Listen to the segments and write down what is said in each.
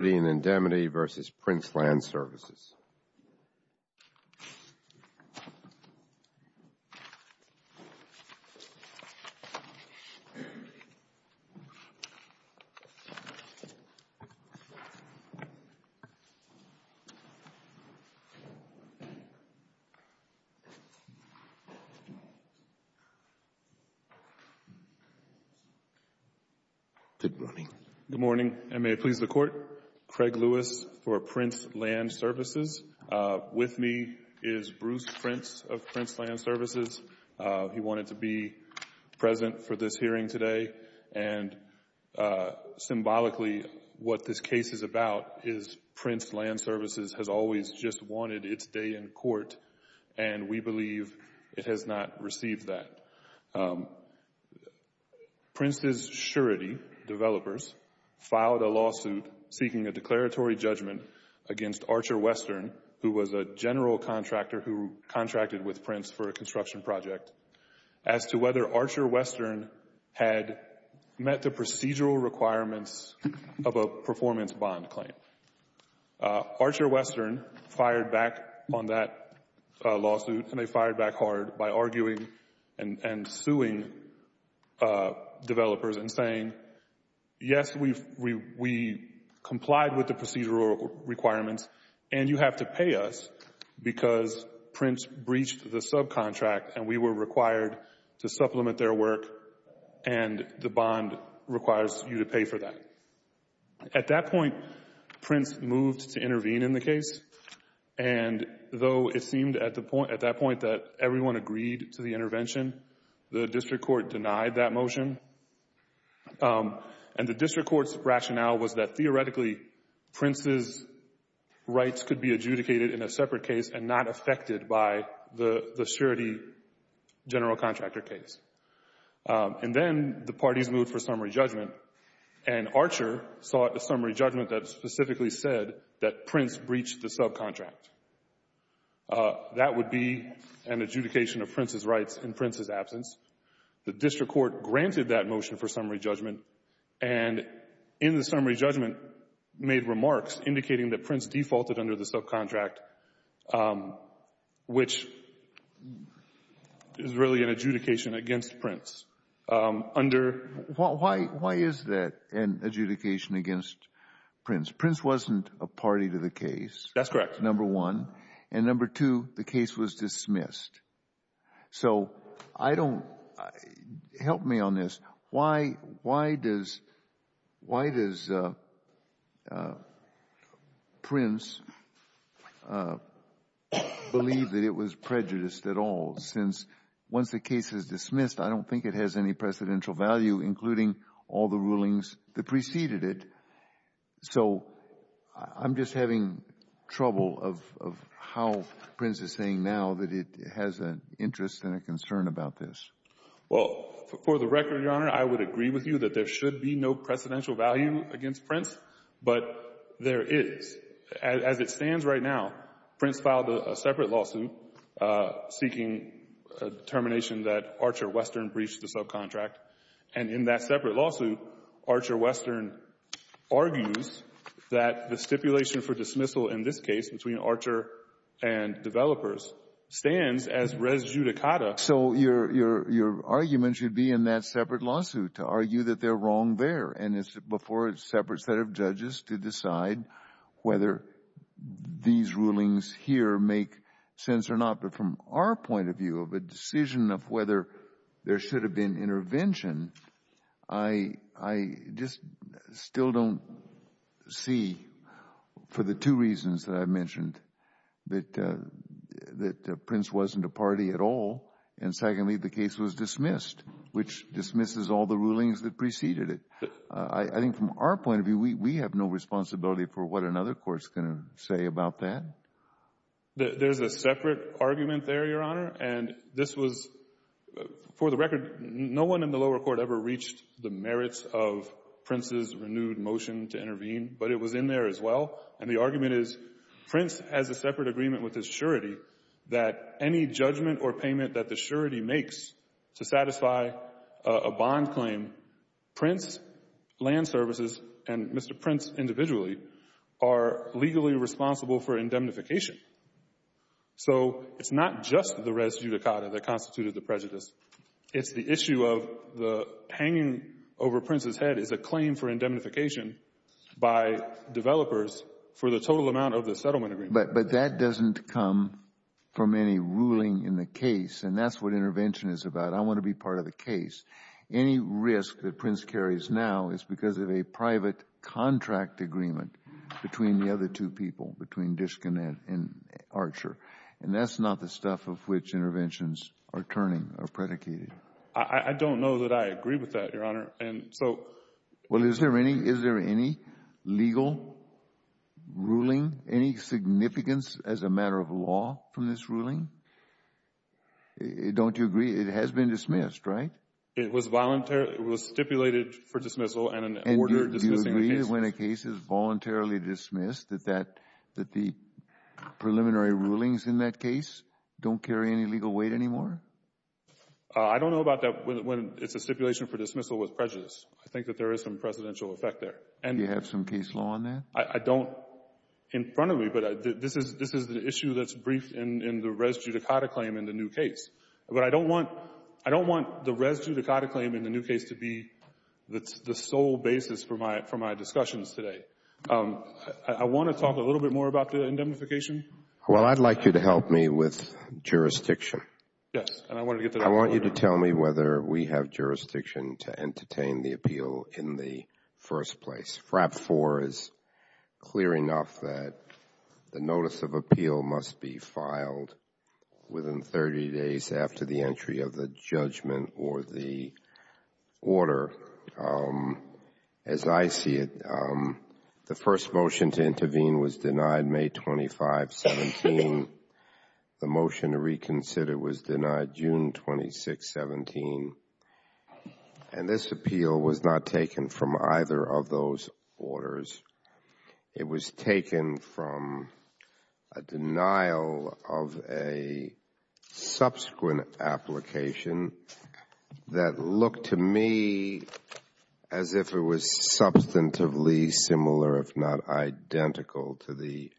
Surety & Indemnity v. Prince Land Services. Good morning. Good morning, and may it please the Court, Craig Lewis for Prince Land Services. With me is Bruce Prince of Prince Land Services. He wanted to be present for this hearing today, and symbolically what this case is about is Prince Land Services has always just wanted its day in court, and we believe it has not received that. Prince's Surety developers filed a lawsuit seeking a declaratory judgment against Archer Western, who was a general contractor who contracted with Prince for a construction project, as to whether Archer Western had met the procedural requirements of a performance bond claim. Archer Western fired back on that lawsuit, and they fired back hard by arguing and suing developers and saying, yes, we complied with the procedural requirements, and you have to pay us because Prince breached the subcontract, and we were required to supplement their work, and the bond requires you to pay for that. At that point, Prince moved to intervene in the case, and though it seemed at that point that everyone agreed to the intervention, the district court denied that motion, and the district court's rationale was that theoretically Prince's rights could be adjudicated in a separate case and not affected by the Surety general contractor case. And then the parties moved for summary judgment, and Archer sought a summary judgment that specifically said that Prince breached the subcontract. That would be an adjudication of Prince's rights in Prince's absence. The district court granted that motion for summary judgment, and in the summary judgment made remarks indicating that Prince defaulted under the subcontract, which is really an adjudication against Prince. Why is that an adjudication against Prince? Prince wasn't a party to the case. That's correct. Number one. And number two, the case was dismissed. So help me on this. Why does Prince believe that it was prejudiced at all, since once the case is dismissed, I don't think it has any precedential value, including all the rulings that preceded it. So I'm just having trouble of how Prince is saying now that it has an interest and a concern about this. Well, for the record, Your Honor, I would agree with you that there should be no precedential value against Prince, but there is. As it stands right now, Prince filed a separate lawsuit seeking a determination that Archer Western breached the subcontract. And in that separate lawsuit, Archer Western argues that the stipulation for dismissal in this case between Archer and developers stands as res judicata. So your argument should be in that separate lawsuit to argue that they're wrong there and it's before a separate set of judges to decide whether these rulings here make sense or not. But from our point of view of a decision of whether there should have been intervention, I just still don't see, for the two reasons that I mentioned, that Prince wasn't a party at all. And secondly, the case was dismissed, which dismisses all the rulings that preceded it. I think from our point of view, we have no responsibility for what another court's going to say about that. There's a separate argument there, Your Honor. And this was, for the record, no one in the lower court ever reached the merits of Prince's renewed motion to intervene, but it was in there as well. And the argument is Prince has a separate agreement with his surety that any judgment or payment that the surety makes to satisfy a bond claim, Prince Land Services and Mr. Prince individually are legally responsible for indemnification. So it's not just the res judicata that constituted the prejudice. It's the issue of the hanging over Prince's head is a claim for indemnification by developers for the total amount of the settlement agreement. But that doesn't come from any ruling in the case, and that's what intervention is about. I want to be part of the case. Any risk that Prince carries now is because of a private contract agreement between the other two people, between Diskinette and Archer, and that's not the stuff of which interventions are turning or predicated. I don't know that I agree with that, Your Honor. And so... Well, is there any legal ruling, any significance as a matter of law from this ruling? Don't you agree it has been dismissed, right? It was voluntarily. It was stipulated for dismissal and an order dismissing the case. And do you agree that when a case is voluntarily dismissed, that the preliminary rulings in that case don't carry any legal weight anymore? I don't know about that when it's a stipulation for dismissal with prejudice. I think that there is some presidential effect there. Do you have some case law on that? I don't in front of me, but this is the issue that's briefed in the res judicata claim in the new case. But I don't want the res judicata claim in the new case to be the sole basis for my discussions today. I want to talk a little bit more about the indemnification. Well, I'd like you to help me with jurisdiction. Yes. And I want to get to that. I want you to tell me whether we have jurisdiction to entertain the appeal in the first place. FRAP 4 is clear enough that the notice of appeal must be filed within 30 days after the entry of the judgment or the order. However, as I see it, the first motion to intervene was denied May 25, 17. The motion to reconsider was denied June 26, 17. And this appeal was not taken from either of those orders. It was taken from a denial of a subsequent application that looked to me as if it was substantively similar, if not identical, to the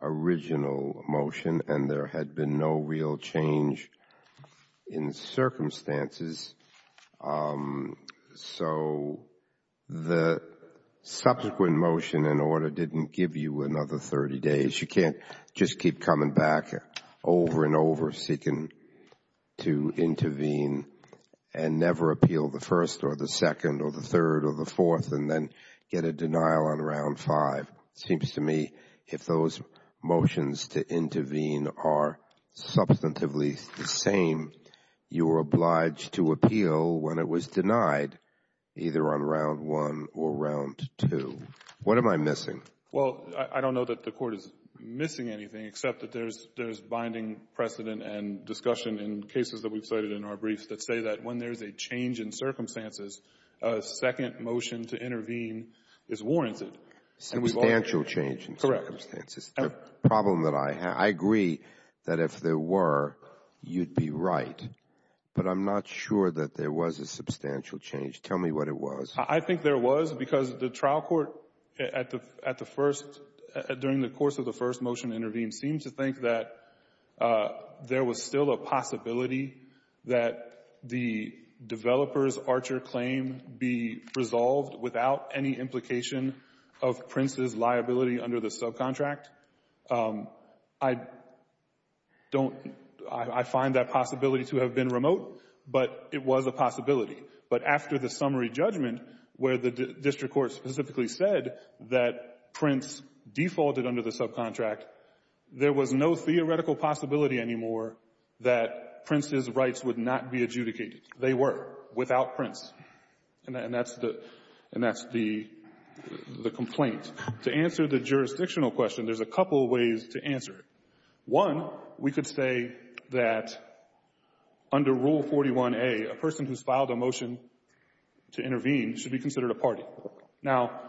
original motion, and there had been no real change in circumstances. So the subsequent motion and order didn't give you another 30 days. You can't just keep coming back over and over seeking to intervene and never appeal the first or the second or the third or the fourth and then get a denial on round five. It seems to me if those motions to intervene are substantively the same, you are obliged to appeal when it was denied, either on round one or round two. What am I missing? Well, I don't know that the Court is missing anything except that there's binding precedent and discussion in cases that we've cited in our briefs that say that when there's a change in circumstances, a second motion to intervene is warranted. Substantial change in circumstances. The problem that I have, I agree that if there were, you'd be right, but I'm not sure that there was a substantial change. Tell me what it was. I think there was because the trial court at the first, during the course of the first motion to intervene, seems to think that there was still a possibility that the developer's of Prince's liability under the subcontract. I don't — I find that possibility to have been remote, but it was a possibility. But after the summary judgment where the district court specifically said that Prince defaulted under the subcontract, there was no theoretical possibility anymore that Prince's rights would not be adjudicated. They were, without Prince. And that's the complaint. To answer the jurisdictional question, there's a couple ways to answer it. One, we could say that under Rule 41a, a person who's filed a motion to intervene should be considered a party. Now,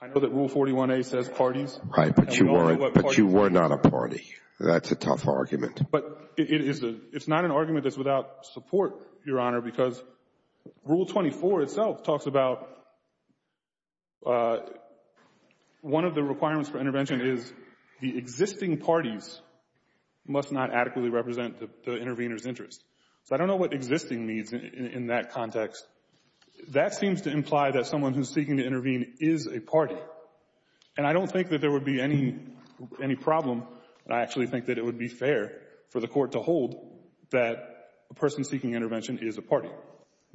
I know that Rule 41a says parties. Right, but you were not a party. That's a tough argument. But it is a — it's not an argument that's without support, Your Honor, because Rule 24 itself talks about one of the requirements for intervention is the existing parties must not adequately represent the intervener's interests. So I don't know what existing means in that context. That seems to imply that someone who's seeking to intervene is a party. And I don't think that there would be any problem, and I actually think that it would be fair for the court to hold that a person seeking intervention is a party.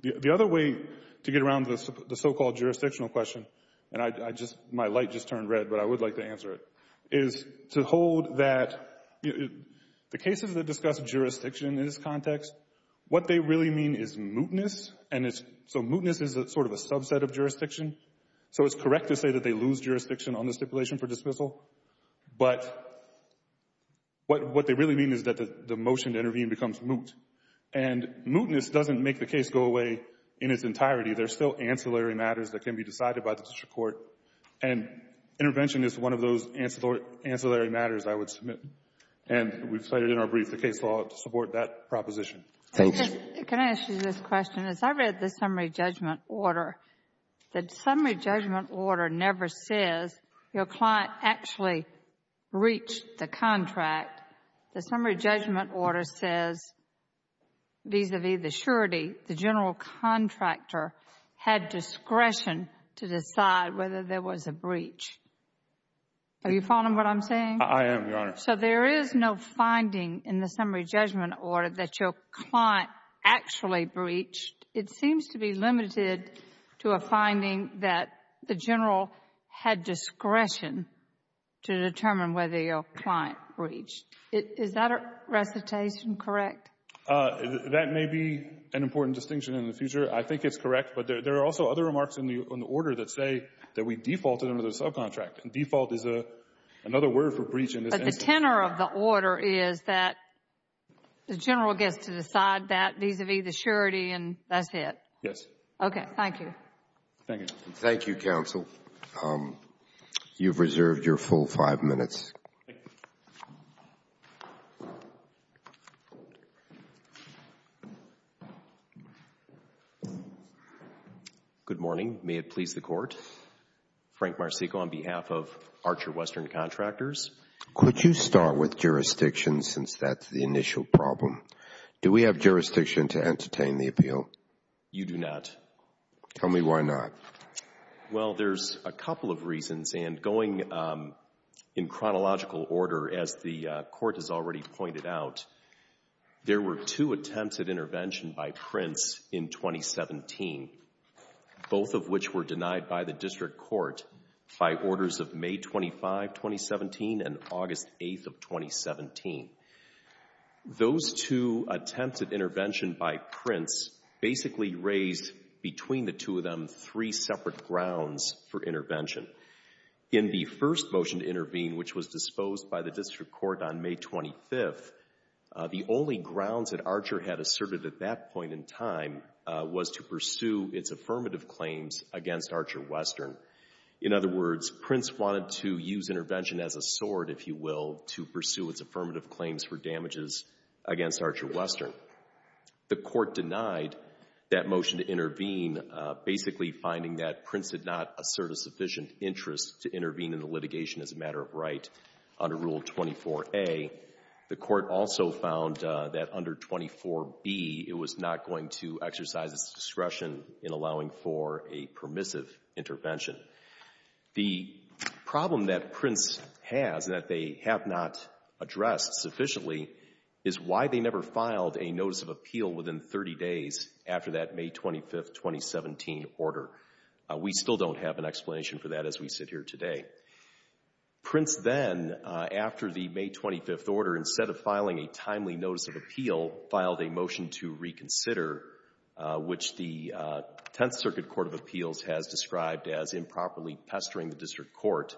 The other way to get around the so-called jurisdictional question — and I just — my light just turned red, but I would like to answer it — is to hold that the cases that discuss jurisdiction in this context, what they really mean is mootness, and it's — so mootness is sort of a subset of jurisdiction. So it's correct to say that they lose jurisdiction on the stipulation for dismissal, but what they really mean is that the motion to intervene becomes moot. And mootness doesn't make the case go away in its entirety. There's still ancillary matters that can be decided by the district court, and intervention is one of those ancillary matters I would submit. And we've cited in our brief the case law to support that proposition. Thanks. Can I ask you this question? As I read the summary judgment order, the summary judgment order never says your client actually breached the contract. The summary judgment order says, vis-à-vis the surety, the general contractor had discretion to decide whether there was a breach. Are you following what I'm saying? I am, Your Honor. So there is no finding in the summary judgment order that your client actually breached. It seems to be limited to a finding that the general had discretion to determine whether your client breached. Is that recitation correct? That may be an important distinction in the future. I think it's correct. But there are also other remarks in the order that say that we defaulted under the subcontract. And default is another word for breach in this instance. But the tenor of the order is that the general gets to decide that vis-à-vis the surety and that's it. Yes. Okay. Thank you. Thank you, Your Honor. Thank you, counsel. You've reserved your full five minutes. Thank you. Good morning. May it please the Court. Frank Marceco on behalf of Archer Western Contractors. Could you start with jurisdiction since that's the initial problem? Do we have jurisdiction to entertain the appeal? You do not. Tell me why not. Well, there's a couple of reasons. And going in chronological order, as the Court has already pointed out, there were two attempts at intervention by Prince in 2017, both of which were denied by the District Court by orders of May 25, 2017 and August 8, 2017. Those two attempts at intervention by Prince basically raised, between the two of them, three separate grounds for intervention. In the first motion to intervene, which was disposed by the District Court on May 25th, the only grounds that Archer had asserted at that point in time was to pursue its affirmative claims against Archer Western. In other words, Prince wanted to use intervention as a sword, if you will, to pursue its affirmative claims for damages against Archer Western. The Court denied that motion to intervene, basically finding that Prince did not assert a sufficient interest to intervene in the litigation as a matter of right under Rule 24a. The Court also found that under 24b, it was not going to exercise its discretion in allowing for a permissive intervention. The problem that Prince has, that they have not addressed sufficiently, is why they never filed a notice of appeal within 30 days after that May 25th, 2017 order. We still don't have an explanation for that as we sit here today. Prince then, after the May 25th order, instead of filing a timely notice of appeal, filed a motion to reconsider, which the Tenth Circuit Court of Appeals has described as improperly pestering the District Court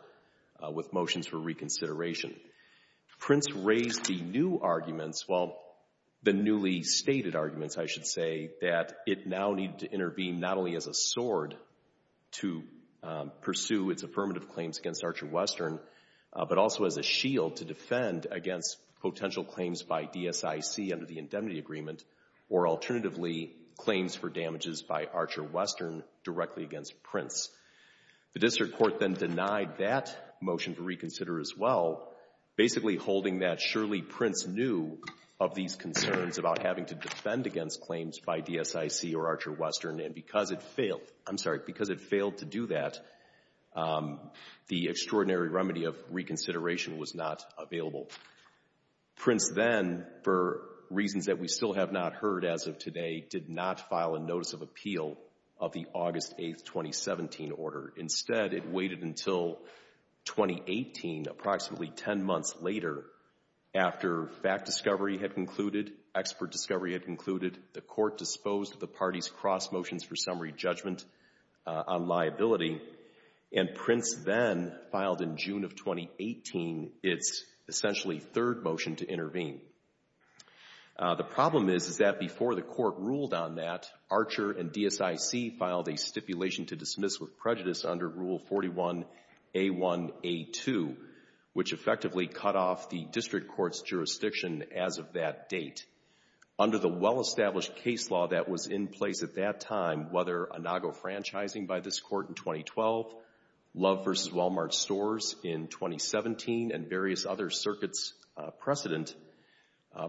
with motions for reconsideration. Prince raised the new arguments, well, the newly stated arguments, I should say, that it now needed to intervene not only as a sword to pursue its affirmative claims against Archer Western, but also as a shield to defend against potential claims by DSIC under the Indemnity Agreement, or alternatively, claims for damages by Archer Western directly against Prince. The District Court then denied that motion to reconsider as well, basically holding that surely Prince knew of these concerns about having to defend against claims by DSIC or Archer Western, and because it failed, I'm sorry, because it failed to do that, the extraordinary remedy of reconsideration was not available. Prince then, for reasons that we still have not heard as of today, did not file a notice of appeal of the August 8th, 2017 order. Instead, it waited until 2018, approximately 10 months later, after fact discovery had concluded, expert discovery had concluded, the Court disposed of the party's cross motions for summary judgment on liability, and Prince then filed in June of 2018 its essentially third motion to intervene. The problem is, is that before the Court ruled on that, Archer and DSIC filed a stipulation to dismiss with prejudice under Rule 41A1A2, which effectively cut off the District Court's jurisdiction as of that date. Under the well-established case law that was in place at that time, whether Inago franchising by this Court in 2012, Love versus Walmart stores in 2017, and various other circuits precedent,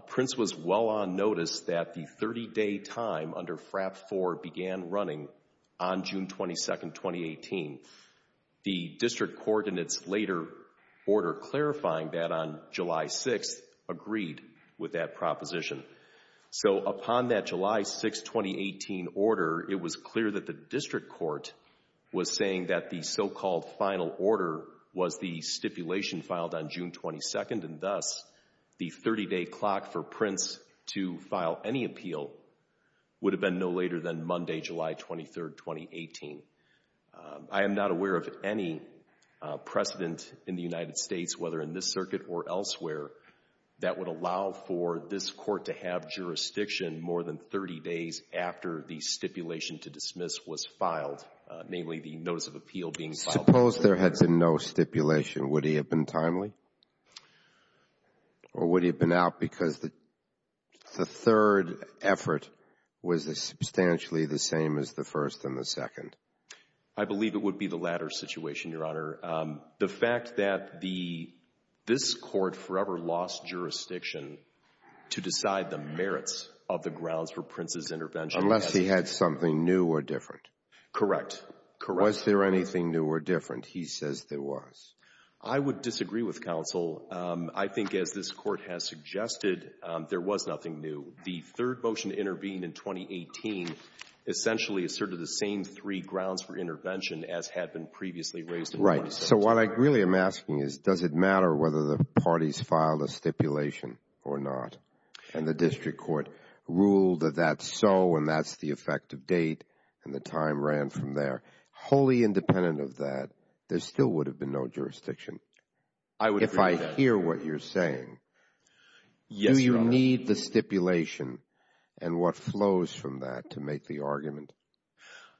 Prince was well on notice that the 30-day time under FRAP 4 began running on June 22nd, 2018. The District Court, in its later order clarifying that on July 6th, agreed with that proposition. So, upon that July 6th, 2018 order, it was clear that the District Court was saying that the so-called final order was the stipulation filed on June 22nd, and thus, the 30-day clock for Prince to file any appeal would have been no later than Monday, July 23rd, 2018. I am not aware of any precedent in the United States, whether in this circuit or elsewhere, that would allow for this Court to have jurisdiction more than 30 days after the stipulation to dismiss was filed, namely the notice of appeal being filed. Suppose there had been no stipulation. Would he have been timely? Or would he have been out because the third effort was substantially the same as the first and the second? I believe it would be the latter situation, Your Honor. The fact that this Court forever lost jurisdiction to decide the merits of the grounds for Prince's intervention. Unless he had something new or different. Correct. Correct. Was there anything new or different? He says there was. I would disagree with counsel. I think, as this Court has suggested, there was nothing new. The third motion to intervene in 2018 essentially asserted the same three grounds for intervention as had been previously raised in the 20th century. Right. So, what I really am asking is, does it matter whether the parties filed a stipulation or not? And the District Court ruled that that's so, and that's the effective date, and the time ran from there. Wholly independent of that, there still would have been no jurisdiction. I would agree with that. If I hear what you're saying, do you need the stipulation and what flows from that to make the argument?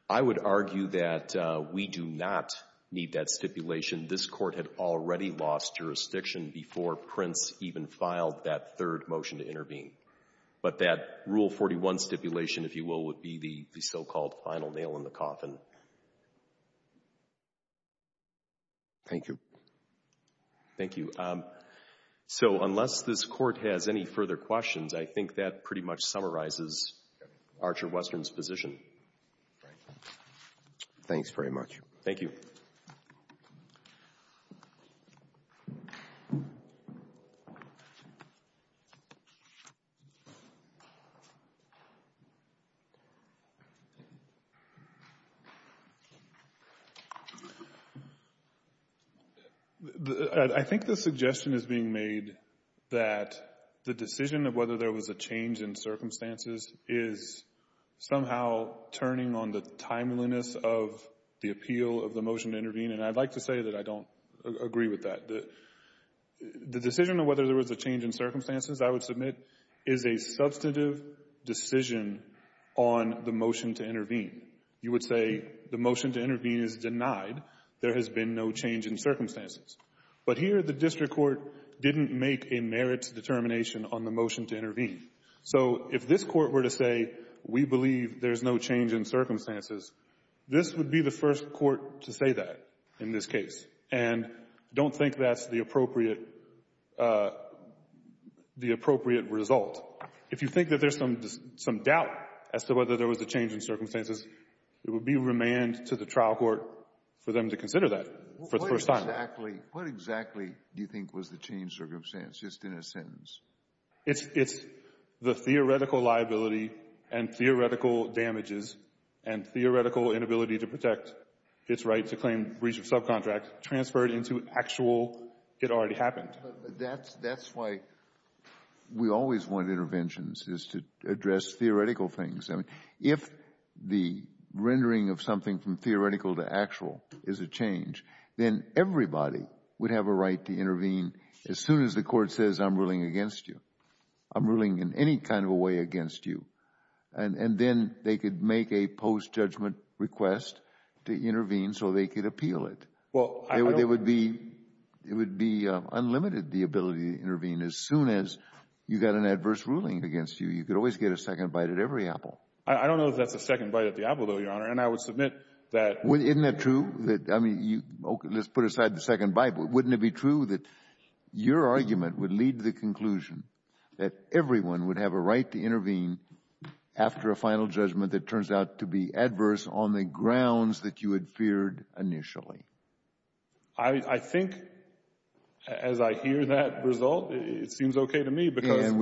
I would argue that we do not need that stipulation. This Court had already lost jurisdiction before Prince even filed that third motion to intervene. But that Rule 41 stipulation, if you will, would be the so-called final nail in the coffin. Thank you. Thank you. So, unless this Court has any further questions, I think that pretty much summarizes Archer Western's position. Thanks very much. Thank you. I think the suggestion is being made that the decision of whether there was a change in circumstances is somehow turning on the timeliness of the appeal of the motion to intervene. And I'd like to say that I don't agree with that. The decision of whether there was a change in circumstances, I would submit, you would say the motion to intervene is denied. There has been no change in circumstances. But here, the district court didn't make a merits determination on the motion to intervene. So if this Court were to say, we believe there's no change in circumstances, this would be the first Court to say that in this case. And I don't think that's the appropriate result. If you think that there's some doubt as to whether there was a change in circumstances, it would be remand to the trial court for them to consider that for the first time. What exactly do you think was the change in circumstances, just in a sentence? It's the theoretical liability and theoretical damages and theoretical inability to protect its right to claim breach of subcontract transferred into actual, it already happened. That's why we always want interventions, is to address theoretical things. If the rendering of something from theoretical to actual is a change, then everybody would have a right to intervene as soon as the Court says, I'm ruling against you. I'm ruling in any kind of a way against you. And then they could make a post-judgment request to intervene so they could appeal it. It would be unlimited, the ability to intervene. As soon as you got an adverse ruling against you, you could always get a second bite at every apple. I don't know if that's a second bite at the apple, though, Your Honor. And I would submit that. Isn't that true? Let's put aside the second bite. Wouldn't it be true that your argument would lead to the conclusion that everyone would have a right to intervene after a final judgment that turns out to be adverse on the grounds that you had feared initially? I think, as I hear that result, it seems okay to me. And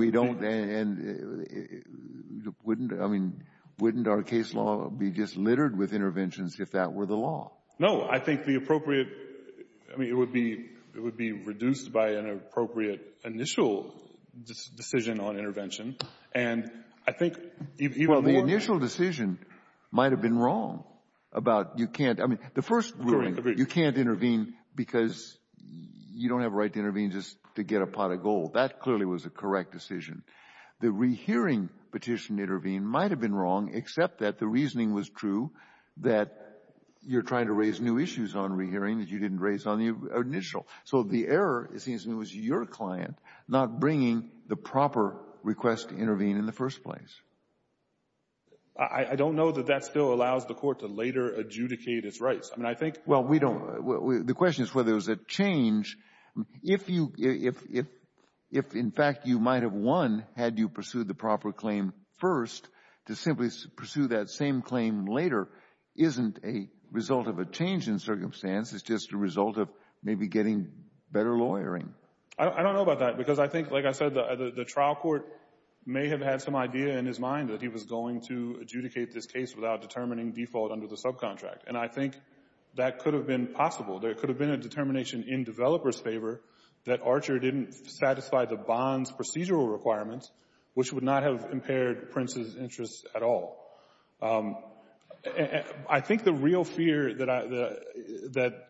wouldn't our case law be just littered with interventions if that were the law? No, I think it would be reduced by an appropriate initial decision on intervention. The initial decision might have been wrong about you can't, I mean, the first ruling, you can't intervene because you don't have a right to intervene just to get a pot of gold. That clearly was a correct decision. The rehearing petition to intervene might have been wrong, except that the reasoning was true that you're trying to raise new issues on rehearing that you didn't raise on the initial. So the error, it seems to me, was your client not bringing the proper request to intervene in the first place. I don't know that that still allows the court to later adjudicate its rights. Well, the question is whether there's a change. If, in fact, you might have won had you pursued the proper claim first, to simply pursue that same claim later isn't a result of a change in circumstance. It's just a result of maybe getting better lawyering. I don't know about that because I think, like I said, the trial court may have had some idea in his mind that he was going to adjudicate this case without determining default under subcontract. And I think that could have been possible. There could have been a determination in developer's favor that Archer didn't satisfy the bond's procedural requirements, which would not have impaired Prince's interests at all. I think the real fear that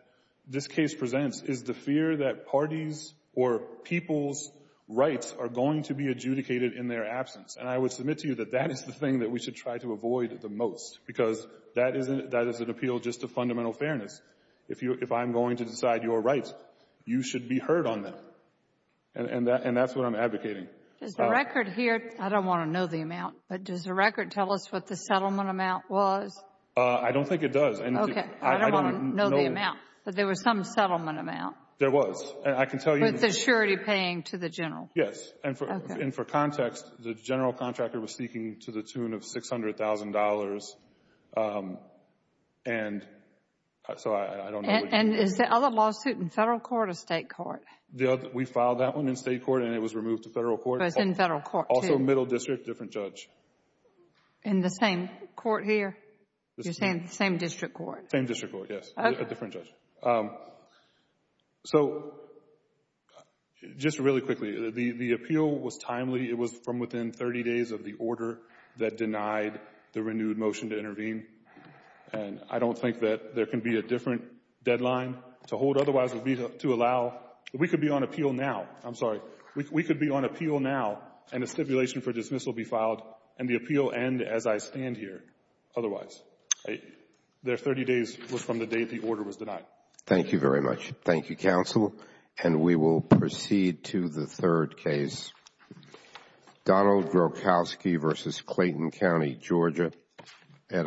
this case presents is the fear that parties or people's rights are going to be adjudicated in their absence. And I would submit to you that that is the thing that we should try to avoid the most because that is an appeal just to fundamental fairness. If I'm going to decide your rights, you should be heard on them. And that's what I'm advocating. Does the record here — I don't want to know the amount, but does the record tell us what the settlement amount was? I don't think it does. Okay. I don't want to know the amount, but there was some settlement amount. There was. And I can tell you — With the surety paying to the general. Yes. And for context, the general contractor was seeking to the tune of $600,000 and so I don't know. And is the other lawsuit in federal court or state court? We filed that one in state court and it was removed to federal court. But it's in federal court too. Also middle district, different judge. In the same court here? You're saying the same district court? Same district court, yes. A different judge. So just really quickly, the appeal was timely. It was from within 30 days of the order that denied the renewed motion to intervene. And I don't think that there can be a different deadline to hold. Otherwise, we could be on appeal now. I'm sorry. We could be on appeal now and a stipulation for dismissal be filed and the appeal end as I stand here. Otherwise, their 30 days was from the date the order was denied. Thank you very much. Thank you, counsel. And we will proceed to the third case. Donald Grokowski v. Clayton County, Georgia, et al.